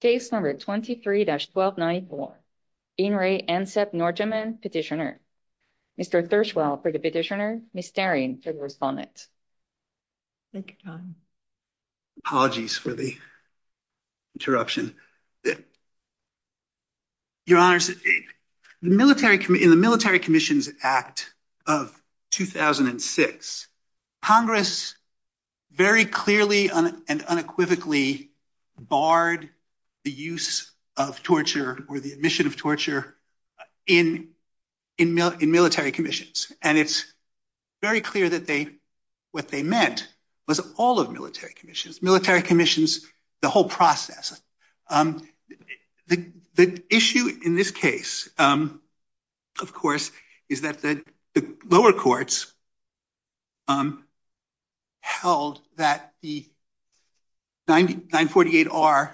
Petitioner. Mr. Thirswell for the Petitioner, Ms. Daring for the Respondent. Apologies for the interruption. Your Honours, in the Military Commissions Act of 2006, Congress very clearly and unequivocally barred the use of torture or the admission of torture in military commissions. And it's very clear that what they meant was all of military commissions, military commissions, the whole process. The issue in this case, of course, is that the lower courts held that the 948R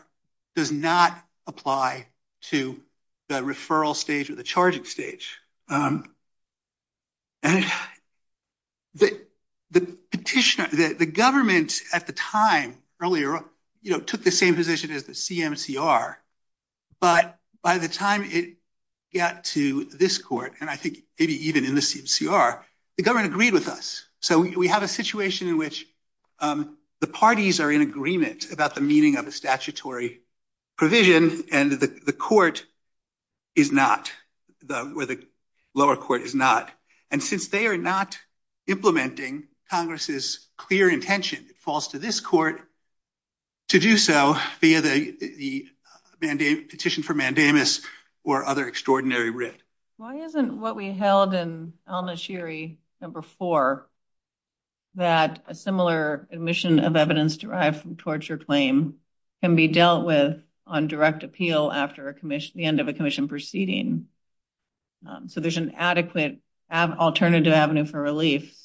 does not apply to the referral stage or the charging stage. The government at the time earlier took the same position as the CMCR, but by the time it got to this court, and I think maybe even in the CMCR, the government agreed with us. So we have situation in which the parties are in agreement about the meaning of a statutory provision, and the lower court is not. And since they are not implementing Congress's clear intention, it falls to this court to do so via the petition for mandamus or other extraordinary writ. Why isn't what we held in Alma Shiri No. 4, that a similar admission of evidence derived from torture claim can be dealt with on direct appeal after the end of a commission proceeding? So there's an adequate alternative avenue for relief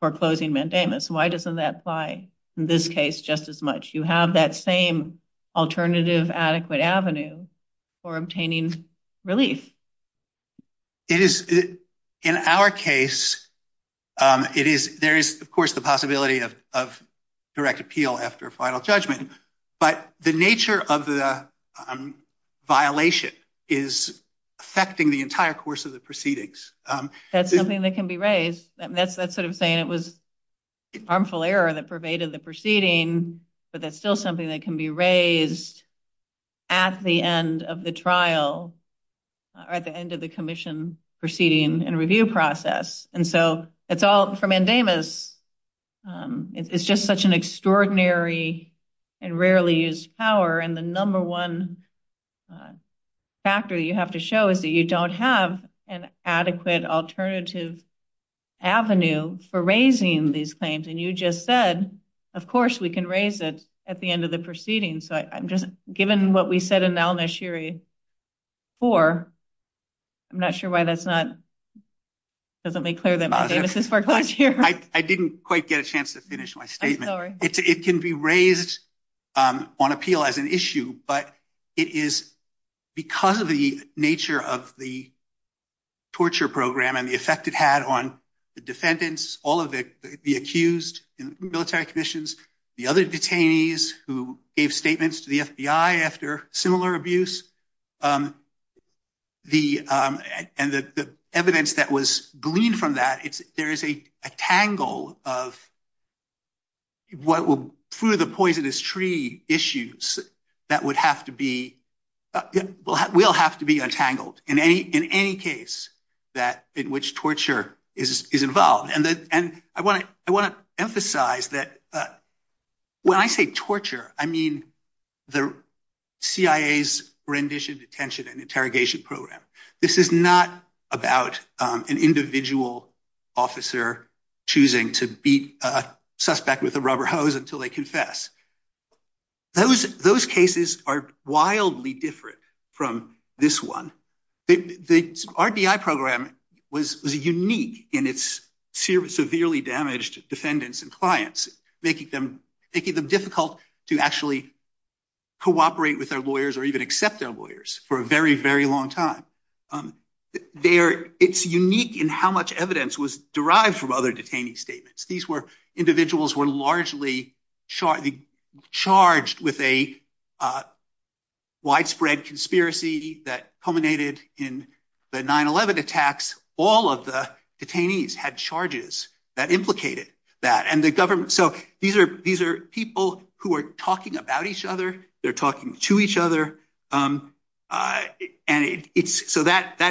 for closing mandamus. Why doesn't that apply in this case just as much? You have that same alternative adequate avenue for obtaining relief. In our case, there is, of course, the possibility of direct appeal after final judgment, but the nature of the violation is affecting the entire course of the proceedings. That's something that can be raised. That's sort of saying it was harmful error that pervaded the trial at the end of the commission proceeding and review process. And so it's all for mandamus. It's just such an extraordinary and rarely used power. And the number one factor you have to show is that you don't have an adequate alternative avenue for raising these claims. And you just said, of course, we can raise it at the end of the proceedings. So I'm just given what we said in Al-Nashiri 4, I'm not sure why that's not, doesn't make clear that mandamus worked last year. I didn't quite get a chance to finish my statement. It can be raised on appeal as an issue, but it is because of the nature of the torture program and the effect it had on the defendants, all of the accused in military commissions, the other detainees who gave statements to the FBI after similar abuse. And the evidence that was gleaned from that, there is a tangle of what will, through the poisonous tree issues that would have to be, will have to be untangled in any case that in which torture is involved. And I want to emphasize that when I say torture, I mean the CIA's rendition detention and interrogation program. This is not about an individual officer choosing to beat a suspect with a rubber hose until they confess. Those cases are wildly different from this one. The RDI program was unique in its severely damaged defendants and clients, making them difficult to actually cooperate with their lawyers or even accept their lawyers for a very, very long time. It's unique in how much evidence was derived from other detainee statements. These were individuals who were largely charged with a widespread conspiracy that culminated in the 9-11 attacks. All of the detainees had charges that implicated that. So these are people who are talking about each other. They're talking to each other. So that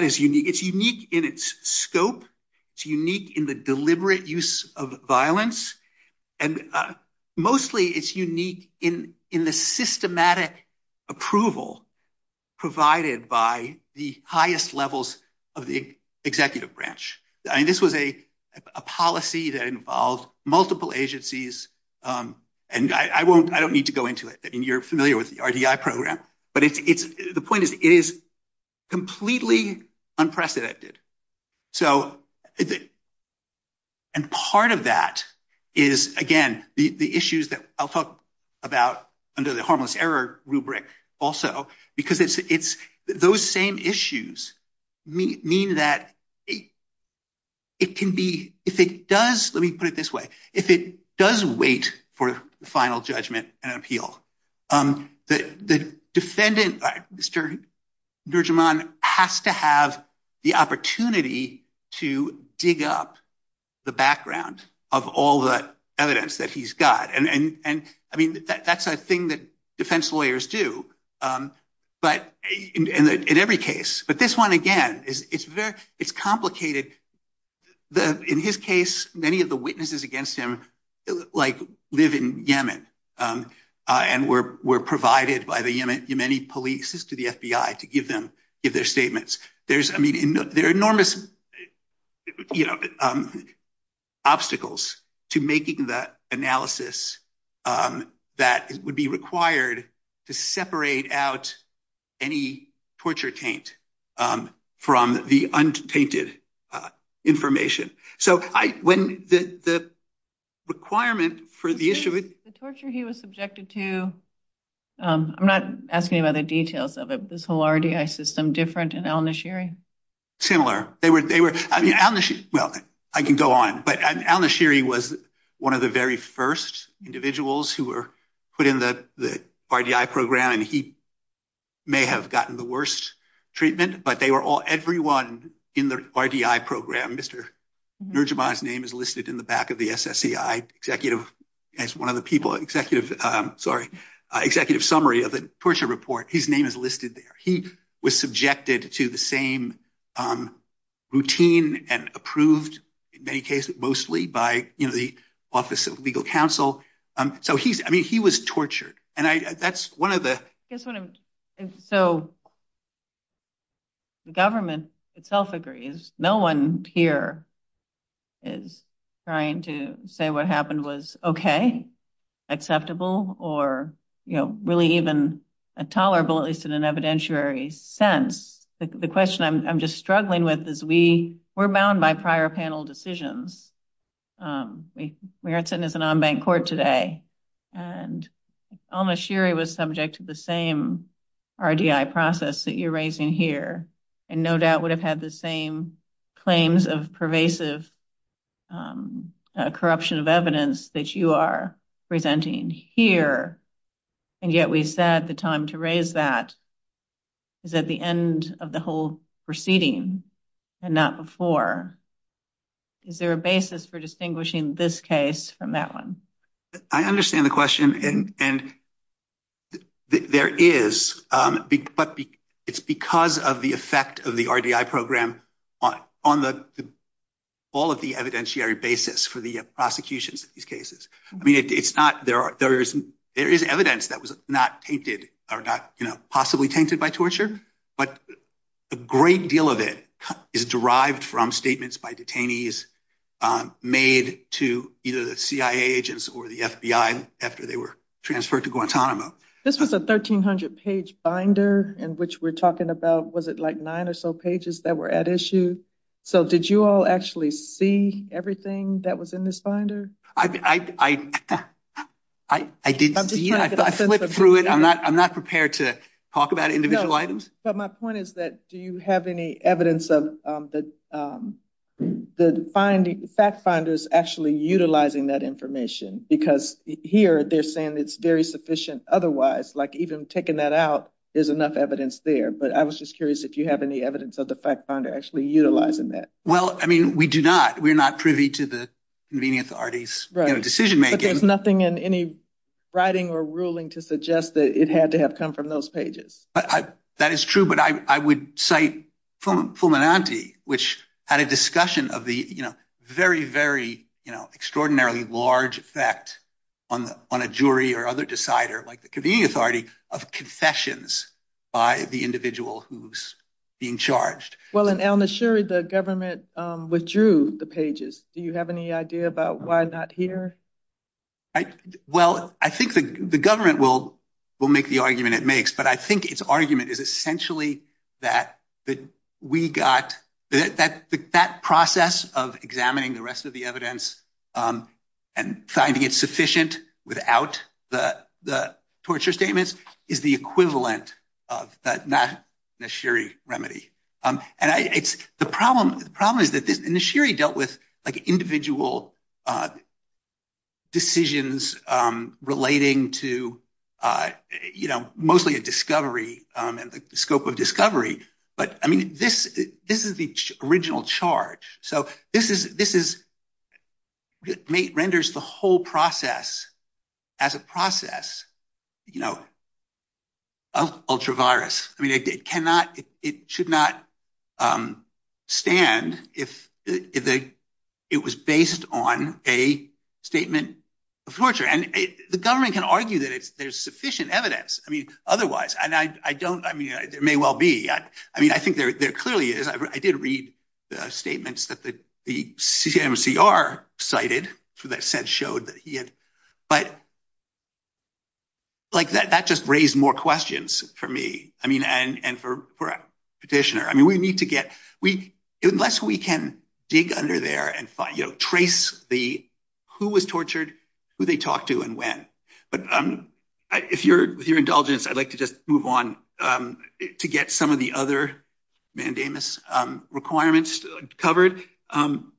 is unique. It's unique in its scope. It's unique in the deliberate use of violence. And mostly it's unique in the of the executive branch. I mean, this was a policy that involved multiple agencies. And I don't need to go into it. I mean, you're familiar with the RDI program. But the point is, it is completely unprecedented. And part of that is, again, the issues that I'll talk about under the harmless error rubric also, because it's those same issues mean that it can be, if it does, let me put it this way, if it does wait for the final judgment and appeal, the defendant, Mr. Nurjahman, has to have the opportunity to dig up the background of all the evidence that he's got. And I mean, that's a thing that defense lawyers do in every case. But this one, again, it's complicated. In his case, many of the witnesses against him live in Yemen and were provided by the Yemeni police to the FBI to give their statements. There are enormous obstacles to making the analysis that would be required to separate out any torture taint from the untainted information. So when the requirement for the issue, the torture he was subjected to, I'm not asking about the details of it, but this whole RDI system different in Al-Nashiri? Similar. They were, well, I can go on, but Al-Nashiri was one of the very first individuals who were put in the RDI program, and he may have gotten the worst treatment, but they were all, everyone in the RDI program, Mr. Nurjahman's name is listed in the back of the SSEI executive, as one of the people, executive, sorry, executive summary of the RDI program. He became routine and approved in many cases, mostly by the Office of Legal Counsel. I mean, he was tortured. And that's one of the... So the government itself agrees. No one here is trying to say what happened was okay, acceptable, or really even intolerable, at least in an evidentiary sense. The question I'm just struggling with is we're bound by prior panel decisions. We aren't sitting as an on-bank court today. And Al-Nashiri was subject to the same RDI process that you're raising here, and no doubt would have had the same claims of pervasive corruption of evidence that you are proceeding, and not before. Is there a basis for distinguishing this case from that one? I understand the question, and there is, but it's because of the effect of the RDI program on all of the evidentiary basis for the prosecutions of these cases. I mean, there is evidence that was not possibly tainted by torture, but a great deal of it is derived from statements by detainees made to either the CIA agents or the FBI after they were transferred to Guantanamo. This was a 1,300-page binder in which we're talking about, was it like nine or so pages that were at issue? So did you all actually see everything that was in this binder? I didn't see it. I flipped through it. I'm not prepared to talk about individual items. But my point is that do you have any evidence of the fact finders actually utilizing that information? Because here they're saying it's very sufficient otherwise, like even taking that out, there's enough evidence there. But I was just curious if you have any evidence of the fact finder actually utilizing that. Well, I mean, we do not. We're not privy to the authority's decision-making. But there's nothing in any writing or ruling to suggest that it had to have come from those pages. That is true. But I would cite Fulminante, which had a discussion of the very, very extraordinarily large effect on a jury or other decider, like the convening authority, of confessions by the individual who's being charged. Well, in El Nishiri, the government withdrew the pages. Do you have any idea about why not here? Well, I think the government will make the argument it makes. But I think its argument is essentially that that process of examining the rest of the evidence and finding it sufficient without the torture statements is the equivalent of that Nishiri remedy. And the problem is that Nishiri dealt with individual decisions relating to mostly a discovery and the scope of discovery. But I mean, this is the original charge. So this renders the whole process as a process of ultra-virus. I mean, it should not stand if it was based on a statement of torture. And the government can argue that there's sufficient evidence otherwise. And I don't, I mean, there may well be. I mean, I think there clearly is. I did read the statements that the CMCR cited that said, showed that he had, but like that, that just raised more questions for me. I mean, and for a petitioner, I mean, we need to get, unless we can dig under there and find, you know, trace the, who was tortured, who they talked to and when. But if you're, with your indulgence, I'd like to just move on to get some of the other mandamus requirements covered. And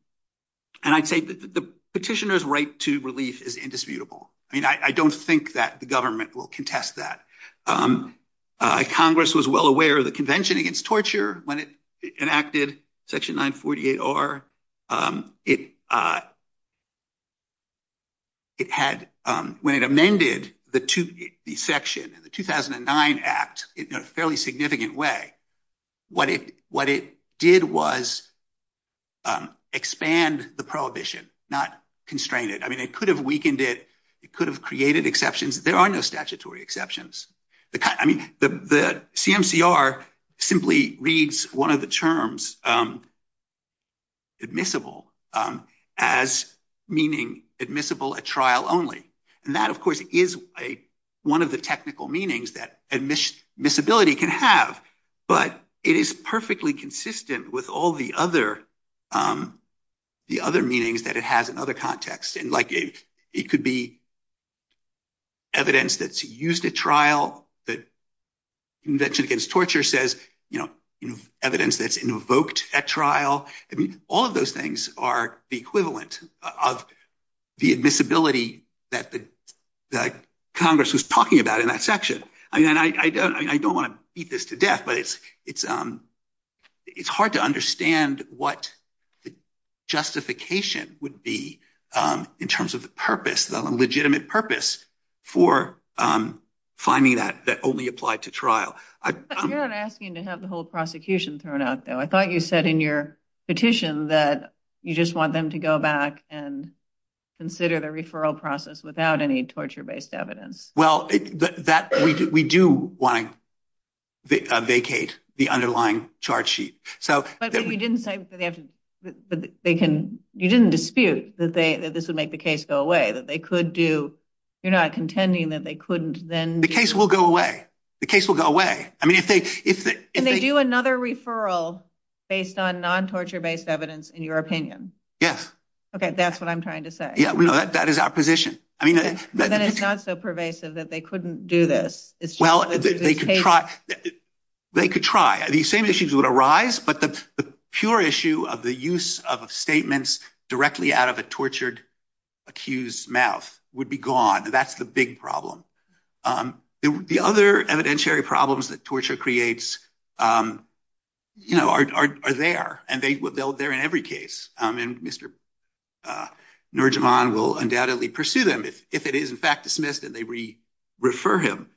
I'd say that the petitioner's right to relief is indisputable. I mean, I don't think that the government will contest that. Congress was well aware of the Convention Against Torture when it enacted Section 948R. It had, when it amended the section in the 2009 Act in a fairly significant way, what it did was expand the prohibition, not constrain it. I mean, it could have weakened it. It could have created exceptions. There are no statutory exceptions. I mean, the CMCR simply reads one of the terms admissible as meaning admissible at trial only. And that, but it is perfectly consistent with all the other, the other meanings that it has in other contexts. And like, it could be evidence that's used at trial that Convention Against Torture says, you know, evidence that's invoked at trial. I mean, all of those things are the equivalent of the admissibility that Congress was talking about in that section. I mean, and I don't want to beat this to death, but it's, it's, it's hard to understand what the justification would be in terms of the purpose, the legitimate purpose for finding that that only applied to trial. You're not asking to have the whole prosecution thrown out though. I thought you said in your petition that you just want them to go back and consider the referral process without any torture evidence. Well, that we do want to vacate the underlying charge sheet. So you didn't say, you didn't dispute that they, that this would make the case go away, that they could do. You're not contending that they couldn't then. The case will go away. The case will go away. I mean, if they, if they do another referral based on non-torture based evidence in your opinion. Yes. Okay. That's what I'm trying to say. Yeah. We know that that is our position. I mean, not so pervasive that they couldn't do this. Well, they could try. They could try. These same issues would arise, but the pure issue of the use of statements directly out of a tortured accused mouth would be gone. That's the big problem. The other evidentiary problems that torture creates, you know, are there and they will, they're in every case. And Mr. Nurjahman will undoubtedly pursue them if, if it is in fact dismissed and they re-refer him.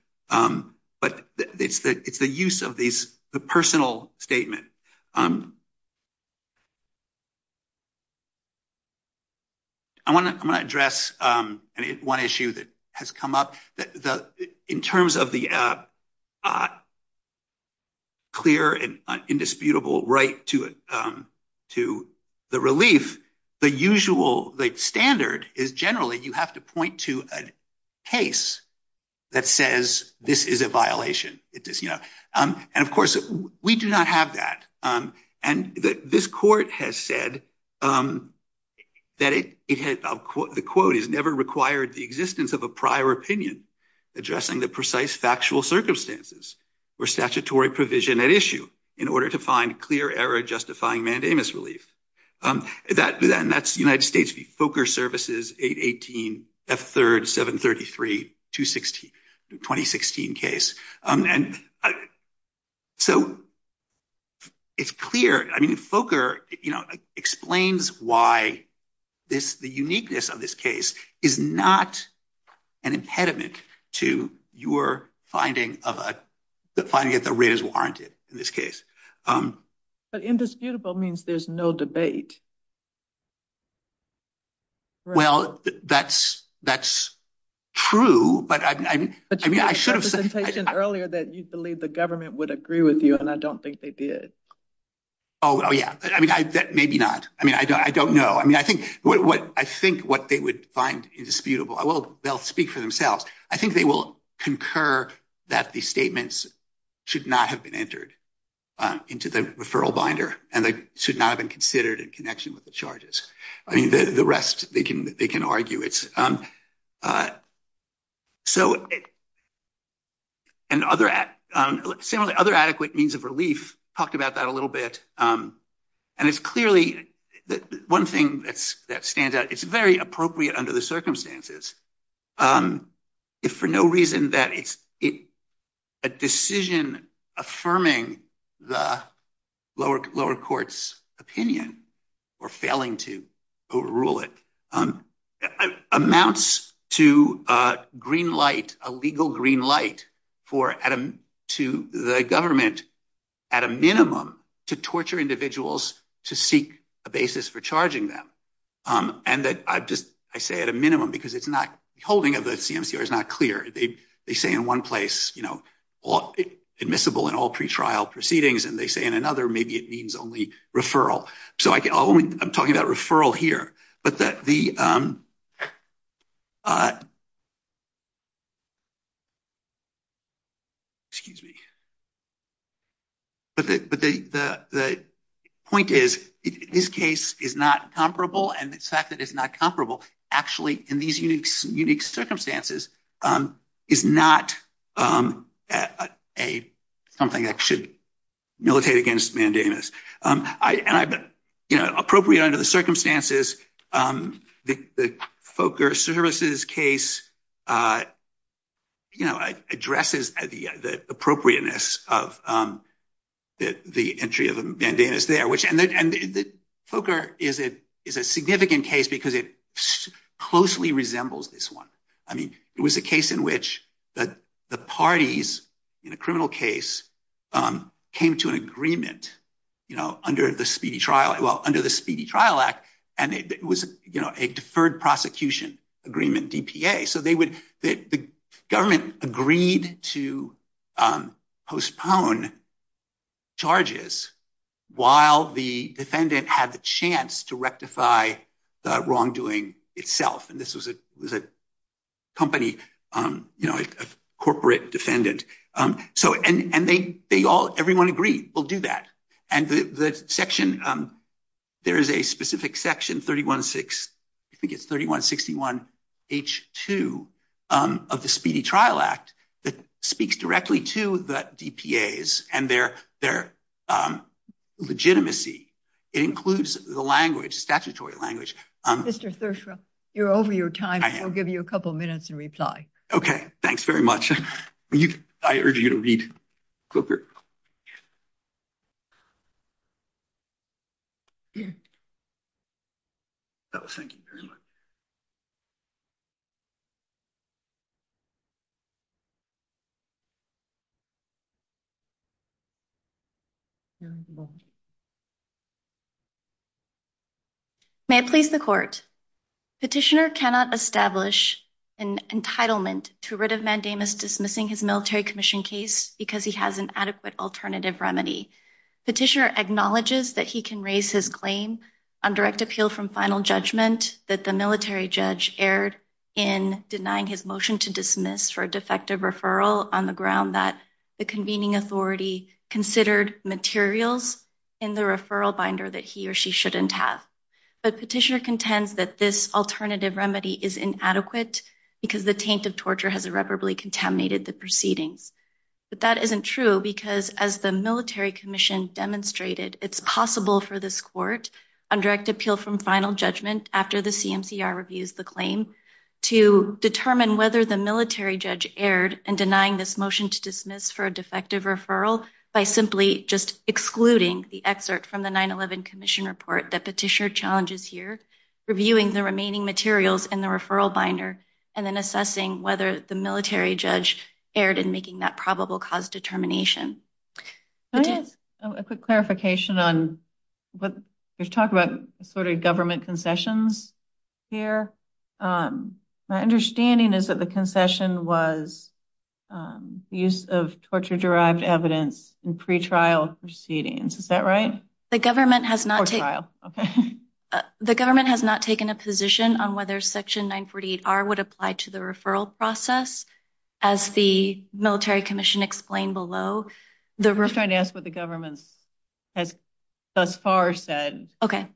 But it's the, it's the use of these, the personal statement. I want to, I'm going to address one issue that has come up that the, in terms of the not clear and indisputable right to, to the relief, the usual, the standard is generally, you have to point to a case that says this is a violation. It does, you know, and of course we do not have that. And this court has said that it, it had, the quote is never required the existence of a prior opinion addressing the precise factual circumstances or statutory provision at issue in order to find clear error, justifying mandamus relief. That then that's United States v. Fokker Services 818 F3rd 733 2016, 2016 case. And so it's clear. I mean, Fokker, you know, explains why this, the uniqueness of this case is not an impediment to your finding of a finding that the rate is warranted in this case. But indisputable means there's no debate. Well, that's, that's true, but I mean, I should have said earlier that you believe the government would agree with you and I don't think they did. Oh yeah. I mean, I, that maybe not. I mean, I don't, I don't know. I mean, I think what I think what they would find indisputable, I will, they'll speak for themselves. I think they will concur that the statements should not have been entered into the referral binder and they should not have been considered in connection with the charges. I mean, the rest they can, they can argue it's so and other, similarly, other adequate means of relief, talked about that a little bit. And it's clearly one thing that's, that stands out. It's very appropriate under the circumstances. If for no reason that it's a decision affirming the lower lower court's opinion or failing to a legal green light for Adam to the government at a minimum to torture individuals, to seek a basis for charging them. And that I've just, I say at a minimum, because it's not holding of the CMCR is not clear. They say in one place, you know, admissible in all pretrial proceedings. And they say in another, maybe it means only referral. So I can only, I'm talking about referral here, but that the, excuse me, but the point is this case is not comparable. And the fact that it's not comparable actually in these unique, unique circumstances is not a, something that should militate against mandamus. And I, you know, appropriate under the circumstances, the Fokker services case, you know, addresses the appropriateness of the entry of a mandamus there, which, and the Fokker is a, is a significant case because it was a case in which the parties in a criminal case came to an agreement, you know, under the speedy trial, well, under the speedy trial act. And it was, you know, a deferred prosecution agreement, DPA. So they would, the government agreed to postpone charges while the defendant had the chance to rectify the wrongdoing itself. And this was a company, you know, a corporate defendant. So, and they all, everyone agreed we'll do that. And the section, there is a specific section 316, I think it's 3161 H2 of the speedy trial act that speaks directly to the DPAs and their legitimacy. It includes the language, statutory language. Mr. Thurshaw, you're over your time. We'll give you a couple of minutes and reply. Okay. Thanks very much. I urge you to read Fokker. Oh, thank you very much. May it please the court. Petitioner cannot establish an entitlement to writ of mandamus dismissing his military commission case because he has an adequate alternative remedy. Petitioner acknowledges that he can raise his claim on direct appeal from final judgment that the military judge erred in denying his motion to dismiss for a defective referral on the ground that the convening authority considered materials in the referral binder that he or she shouldn't have. But petitioner contends that this alternative remedy is inadequate because the taint of torture has irreparably contaminated the proceedings. But that isn't true because as the military commission demonstrated, it's possible for this court on direct appeal from final judgment after the CMCR reviews the claim to determine whether the military judge erred in denying this motion to dismiss for defective referral by simply just excluding the excerpt from the 9-11 commission report that petitioner challenges here, reviewing the remaining materials in the referral binder, and then assessing whether the military judge erred in making that probable cause determination. Can I ask a quick clarification on what you're talking about sort of government concessions here? My understanding is that the concession was use of torture-derived evidence in pre-trial proceedings. Is that right? The government has not taken a position on whether section 948R would apply to the referral process as the military commission explained below. I'm just trying to ask what the government has thus far said. Okay.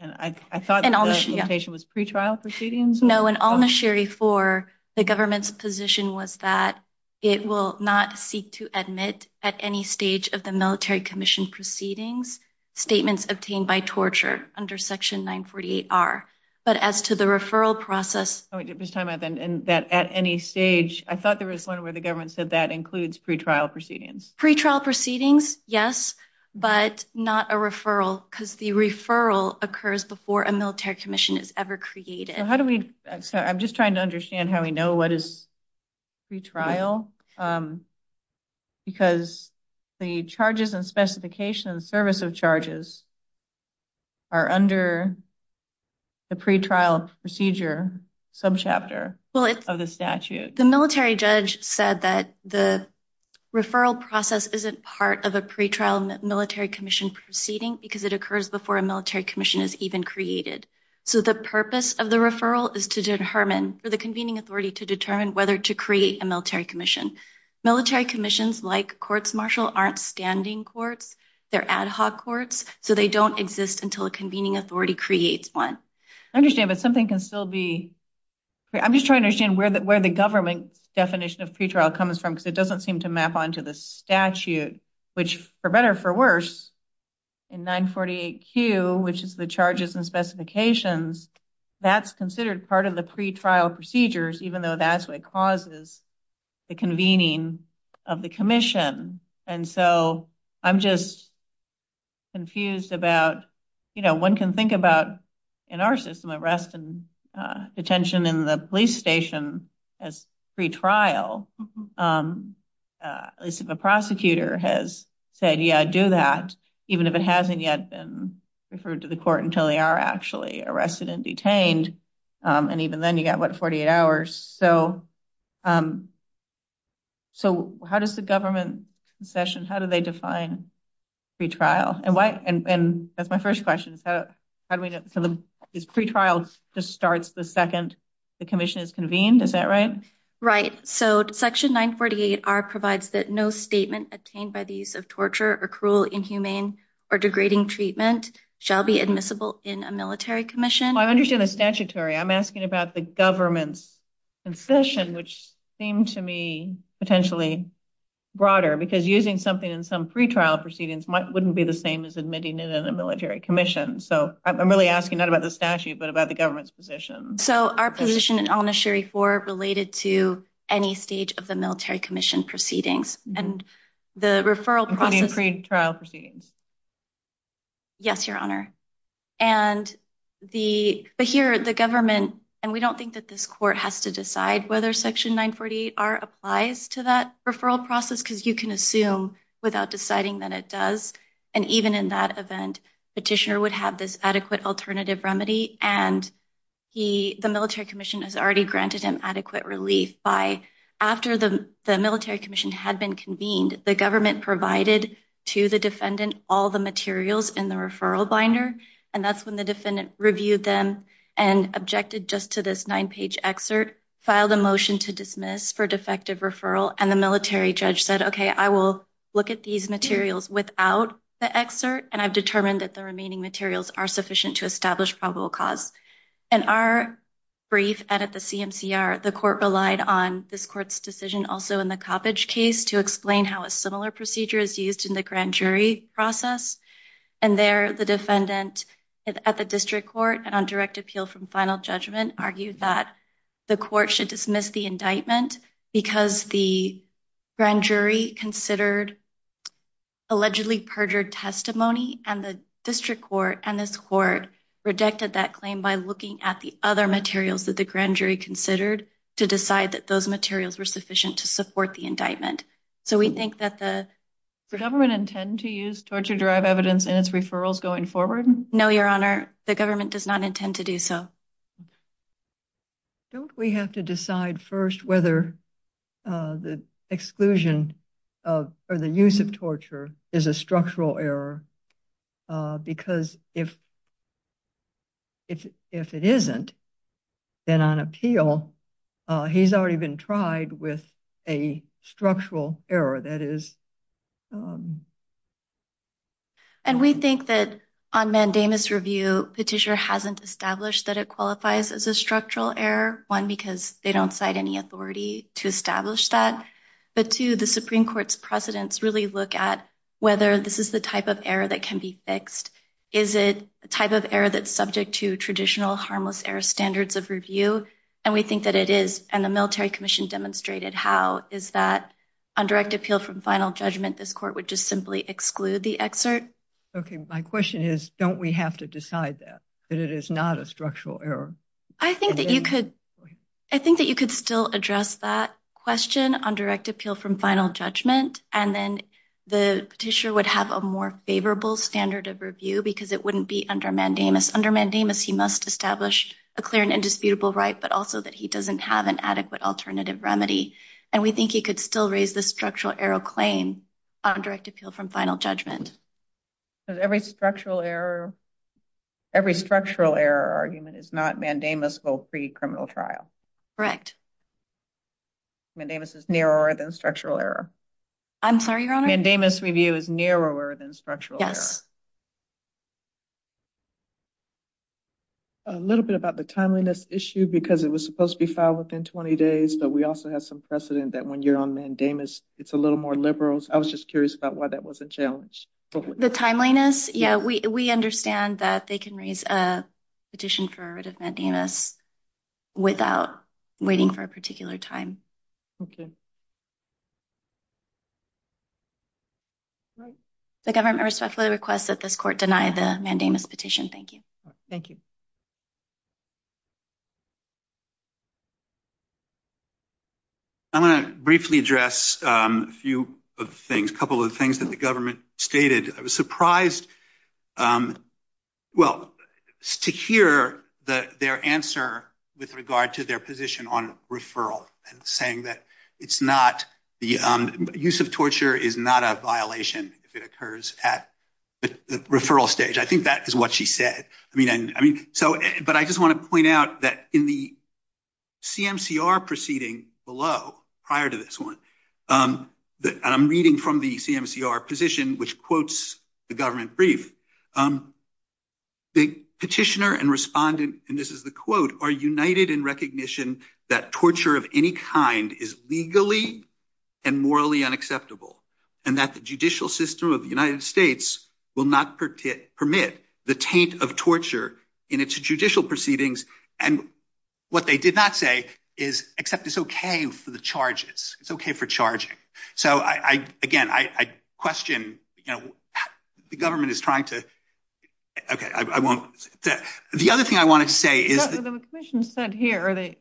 And I thought it was pre-trial proceedings? No, in al-Nashiri 4, the government's position was that it will not seek to admit at any stage of the military commission proceedings statements obtained by torture under section 948R. But as to the referral process, I thought there was one where the government said that includes pre-trial proceedings. Pre-trial proceedings, yes, but not a referral because the referral occurs before a military commission is ever created. I'm just trying to understand how we know what is pre-trial because the charges and specifications service of charges are under the pre-trial procedure subchapter of the statute. The military judge said that the referral process isn't part of a pre-trial military commission proceeding because it occurs before a military commission is even created. So the purpose of the referral is to determine for the convening authority to determine whether to create a military commission. Military commissions like courts-martial aren't standing courts, they're ad hoc courts, so they don't exist until a convening authority creates one. I understand but something can still be... I'm just trying to understand where the government's definition of pre-trial comes from because it doesn't seem to map onto the statute, which for better for worse in 948Q, which is the charges and specifications, that's considered part of the pre-trial procedures even though that's what causes the convening of the commission. And so I'm just confused about, you know, one can think about in our system arrest and detention in the police station as pre-trial, at least if a prosecutor has said yeah do that even if it hasn't yet been referred to the court until they are actually arrested and detained and even then you got what 48 hours. So how does the government concession, how do they define pre-trial? And that's my first question, is pre-trial just starts the second the commission is convened, is that right? Right, so section 948R provides that no statement obtained by the use of torture or cruel inhumane or degrading treatment shall be admissible in a military commission. I asking about the government's concession which seemed to me potentially broader because using something in some pre-trial proceedings wouldn't be the same as admitting it in a military commission. So I'm really asking not about the statute but about the government's position. So our position in Al-Nashiri 4 related to any stage of the military commission proceedings and the referral pre-trial proceedings. Yes your honor and the but here the government and we don't think that this court has to decide whether section 948R applies to that referral process because you can assume without deciding that it does and even in that event petitioner would have this adequate alternative remedy and the military commission has already granted him adequate relief by after the the military commission had been convened the government provided to the defendant all the materials in the referral binder and that's when the defendant reviewed them and objected just to this nine page excerpt filed a motion to dismiss for defective referral and the military judge said okay I will look at these materials without the excerpt and I've determined that the remaining materials are sufficient to establish probable cause. In our brief at the decision also in the Coppedge case to explain how a similar procedure is used in the grand jury process and there the defendant at the district court and on direct appeal from final judgment argued that the court should dismiss the indictment because the grand jury considered allegedly perjured testimony and the district court and this court rejected that claim by looking at the other materials that the grand jury considered to decide that those materials were sufficient to support the indictment. So we think that the government intend to use torture derived evidence in its referrals going forward? No your honor the government does not intend to do so. Don't we have to decide first whether the exclusion of or the use of torture is a structural error because if it isn't then on appeal he's already been tried with a structural error that is. And we think that on mandamus review Petitioner hasn't established that it qualifies as a structural error one because they don't cite any authority to establish that but two the can be fixed is it a type of error that's subject to traditional harmless error standards of review and we think that it is and the military commission demonstrated how is that on direct appeal from final judgment this court would just simply exclude the excerpt. Okay my question is don't we have to decide that that it is not a structural error? I think that you could I think that you could still address that question on direct appeal from final judgment and then the favorable standard of review because it wouldn't be under mandamus. Under mandamus he must establish a clear and indisputable right but also that he doesn't have an adequate alternative remedy and we think he could still raise the structural error claim on direct appeal from final judgment. Every structural error every structural error argument is not mandamus go free criminal trial. Correct. Mandamus is narrower than structural error. I'm sorry your honor. Mandamus review is yes. A little bit about the timeliness issue because it was supposed to be filed within 20 days but we also have some precedent that when you're on mandamus it's a little more liberals I was just curious about why that wasn't challenged. The timeliness yeah we we understand that they can raise a petition for a rid of mandamus without waiting for a particular time. Okay. The government respectfully requests that this court deny the mandamus petition. Thank you. Thank you. I'm going to briefly address a few of the things a couple of the things that the government stated. I was surprised well to hear the their answer with regard to their position on referral and saying that it's not the use of torture is not a violation if it occurs at the referral stage. I think that is what she said I mean and I mean so but I just want to point out that in the CMCR proceeding below prior to this one that I'm reading from the CMCR position which quotes the government brief the petitioner and respondent and this is the quote are united in recognition that torture of any kind is legally and morally unacceptable and that the judicial system of the United States will not permit the taint of torture in its judicial proceedings and what they did not say is except it's okay for the charges it's okay for charging so I again I question you know the government is trying to okay I won't the other thing I wanted to say is the commission said here are the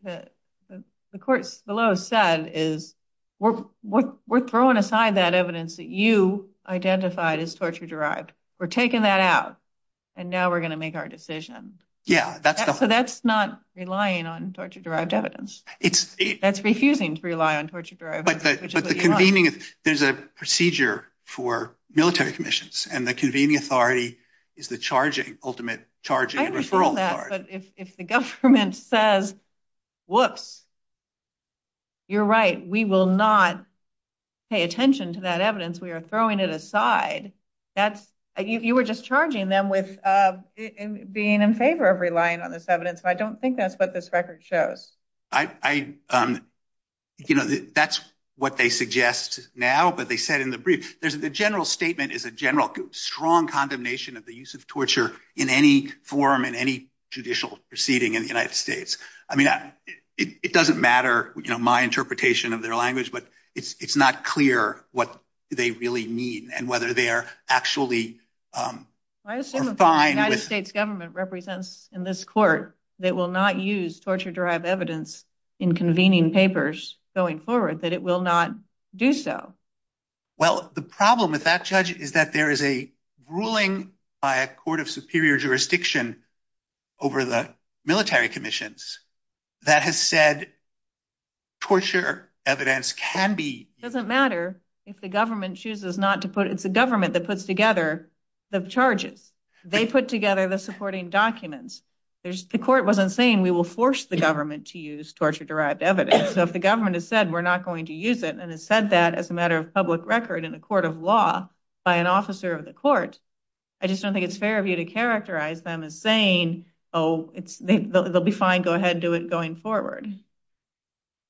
the courts below said is we're we're throwing aside that evidence that you identified as torture derived we're taking that out and now we're going to make our decision yeah that's so that's not relying on torture derived evidence it's that's refusing to rely on torture but the convening there's a procedure for military commissions and the convening authority is the charging ultimate charging referral but if the government says whoops you're right we will not pay attention to that evidence we are throwing it aside that's you were just charging them with uh being in favor of relying on this evidence I don't think that's what this record shows I I um you know that's what they suggest now but they said in the brief there's the general statement is a general strong condemnation of the use of torture in any form in any judicial proceeding in the United States I mean it doesn't matter you know my interpretation of their language but it's it's not clear what they really mean and whether they are actually um I assume the United States government represents in this court that will not use torture derived evidence in convening papers going forward that will not do so well the problem with that judge is that there is a ruling by a court of superior jurisdiction over the military commissions that has said torture evidence can be doesn't matter if the government chooses not to put it's a government that puts together the charges they put together the supporting documents there's the court wasn't saying we will force the government to use torture derived evidence so if the government has said we're not going to use it and it said that as a matter of public record in the court of law by an officer of the court I just don't think it's fair of you to characterize them as saying oh it's they'll be fine go ahead do it going forward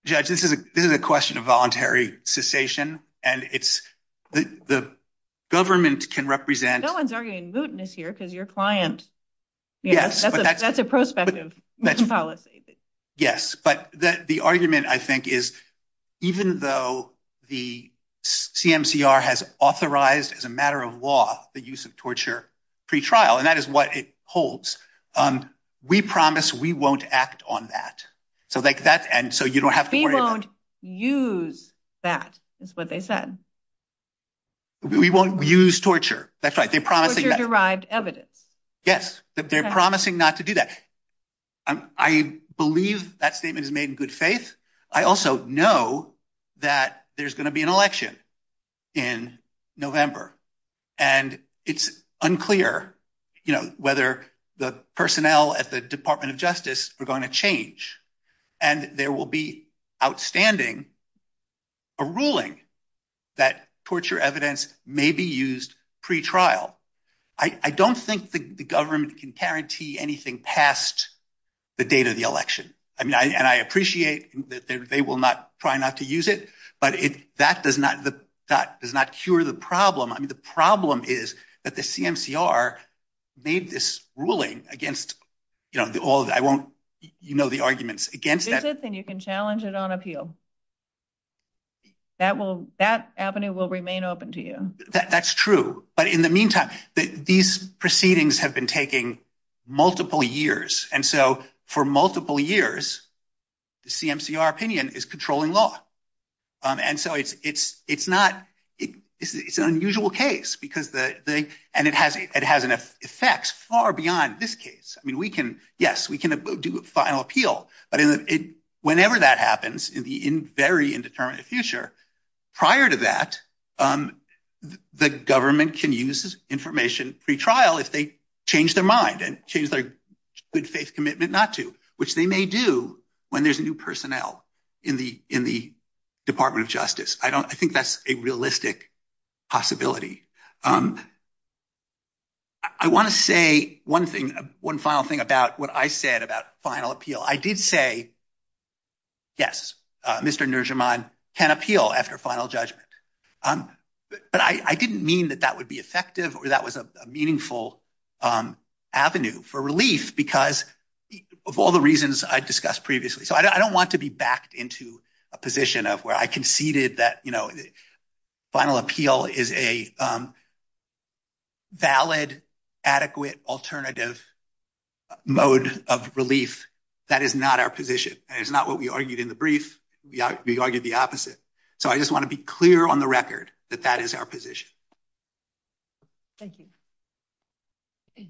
judge this is a this is a question of voluntary cessation and it's the the government can represent no one's arguing mootness here because your client yes that's a prospective policy yes but that the argument I think is even though the CMCR has authorized as a matter of law the use of torture pre-trial and that is what it holds um we promise we won't act on that so like that and so you don't have to we won't use that is what they said we won't use torture that's right they're promising derived evidence yes they're promising not to do that I believe that statement is made in good faith I also know that there's going to be an election in November and it's unclear you know whether the personnel at the Department of Justice are going to change and there will be outstanding a ruling that torture evidence may be used pre-trial I don't think the government can guarantee anything past the date of the election I mean I and I appreciate that they will not try not to use it but if that does not the that does not cure the problem I mean the problem is that CMCR made this ruling against you know all that I won't you know the arguments against that then you can challenge it on appeal that will that avenue will remain open to you that that's true but in the meantime that these proceedings have been taking multiple years and so for multiple years the CMCR opinion is controlling law um and so it's it's it's not it it's an unusual case because the the and it has it has enough effects far beyond this case I mean we can yes we can do a final appeal but in the it whenever that happens in the in very indeterminate future prior to that um the government can use information pre-trial if they change their mind and change their good faith commitment not to which they may do when there's new personnel in the in the possibility um I want to say one thing one final thing about what I said about final appeal I did say yes uh Mr. Nurjahman can appeal after final judgment um but I I didn't mean that that would be effective or that was a meaningful um avenue for relief because of all the reasons I discussed previously so I don't want to be backed into a position of where I conceded that you know final appeal is a valid adequate alternative mode of relief that is not our position and it's not what we argued in the brief we argued the opposite so I just want to be clear on the record that that is our position. Thank you.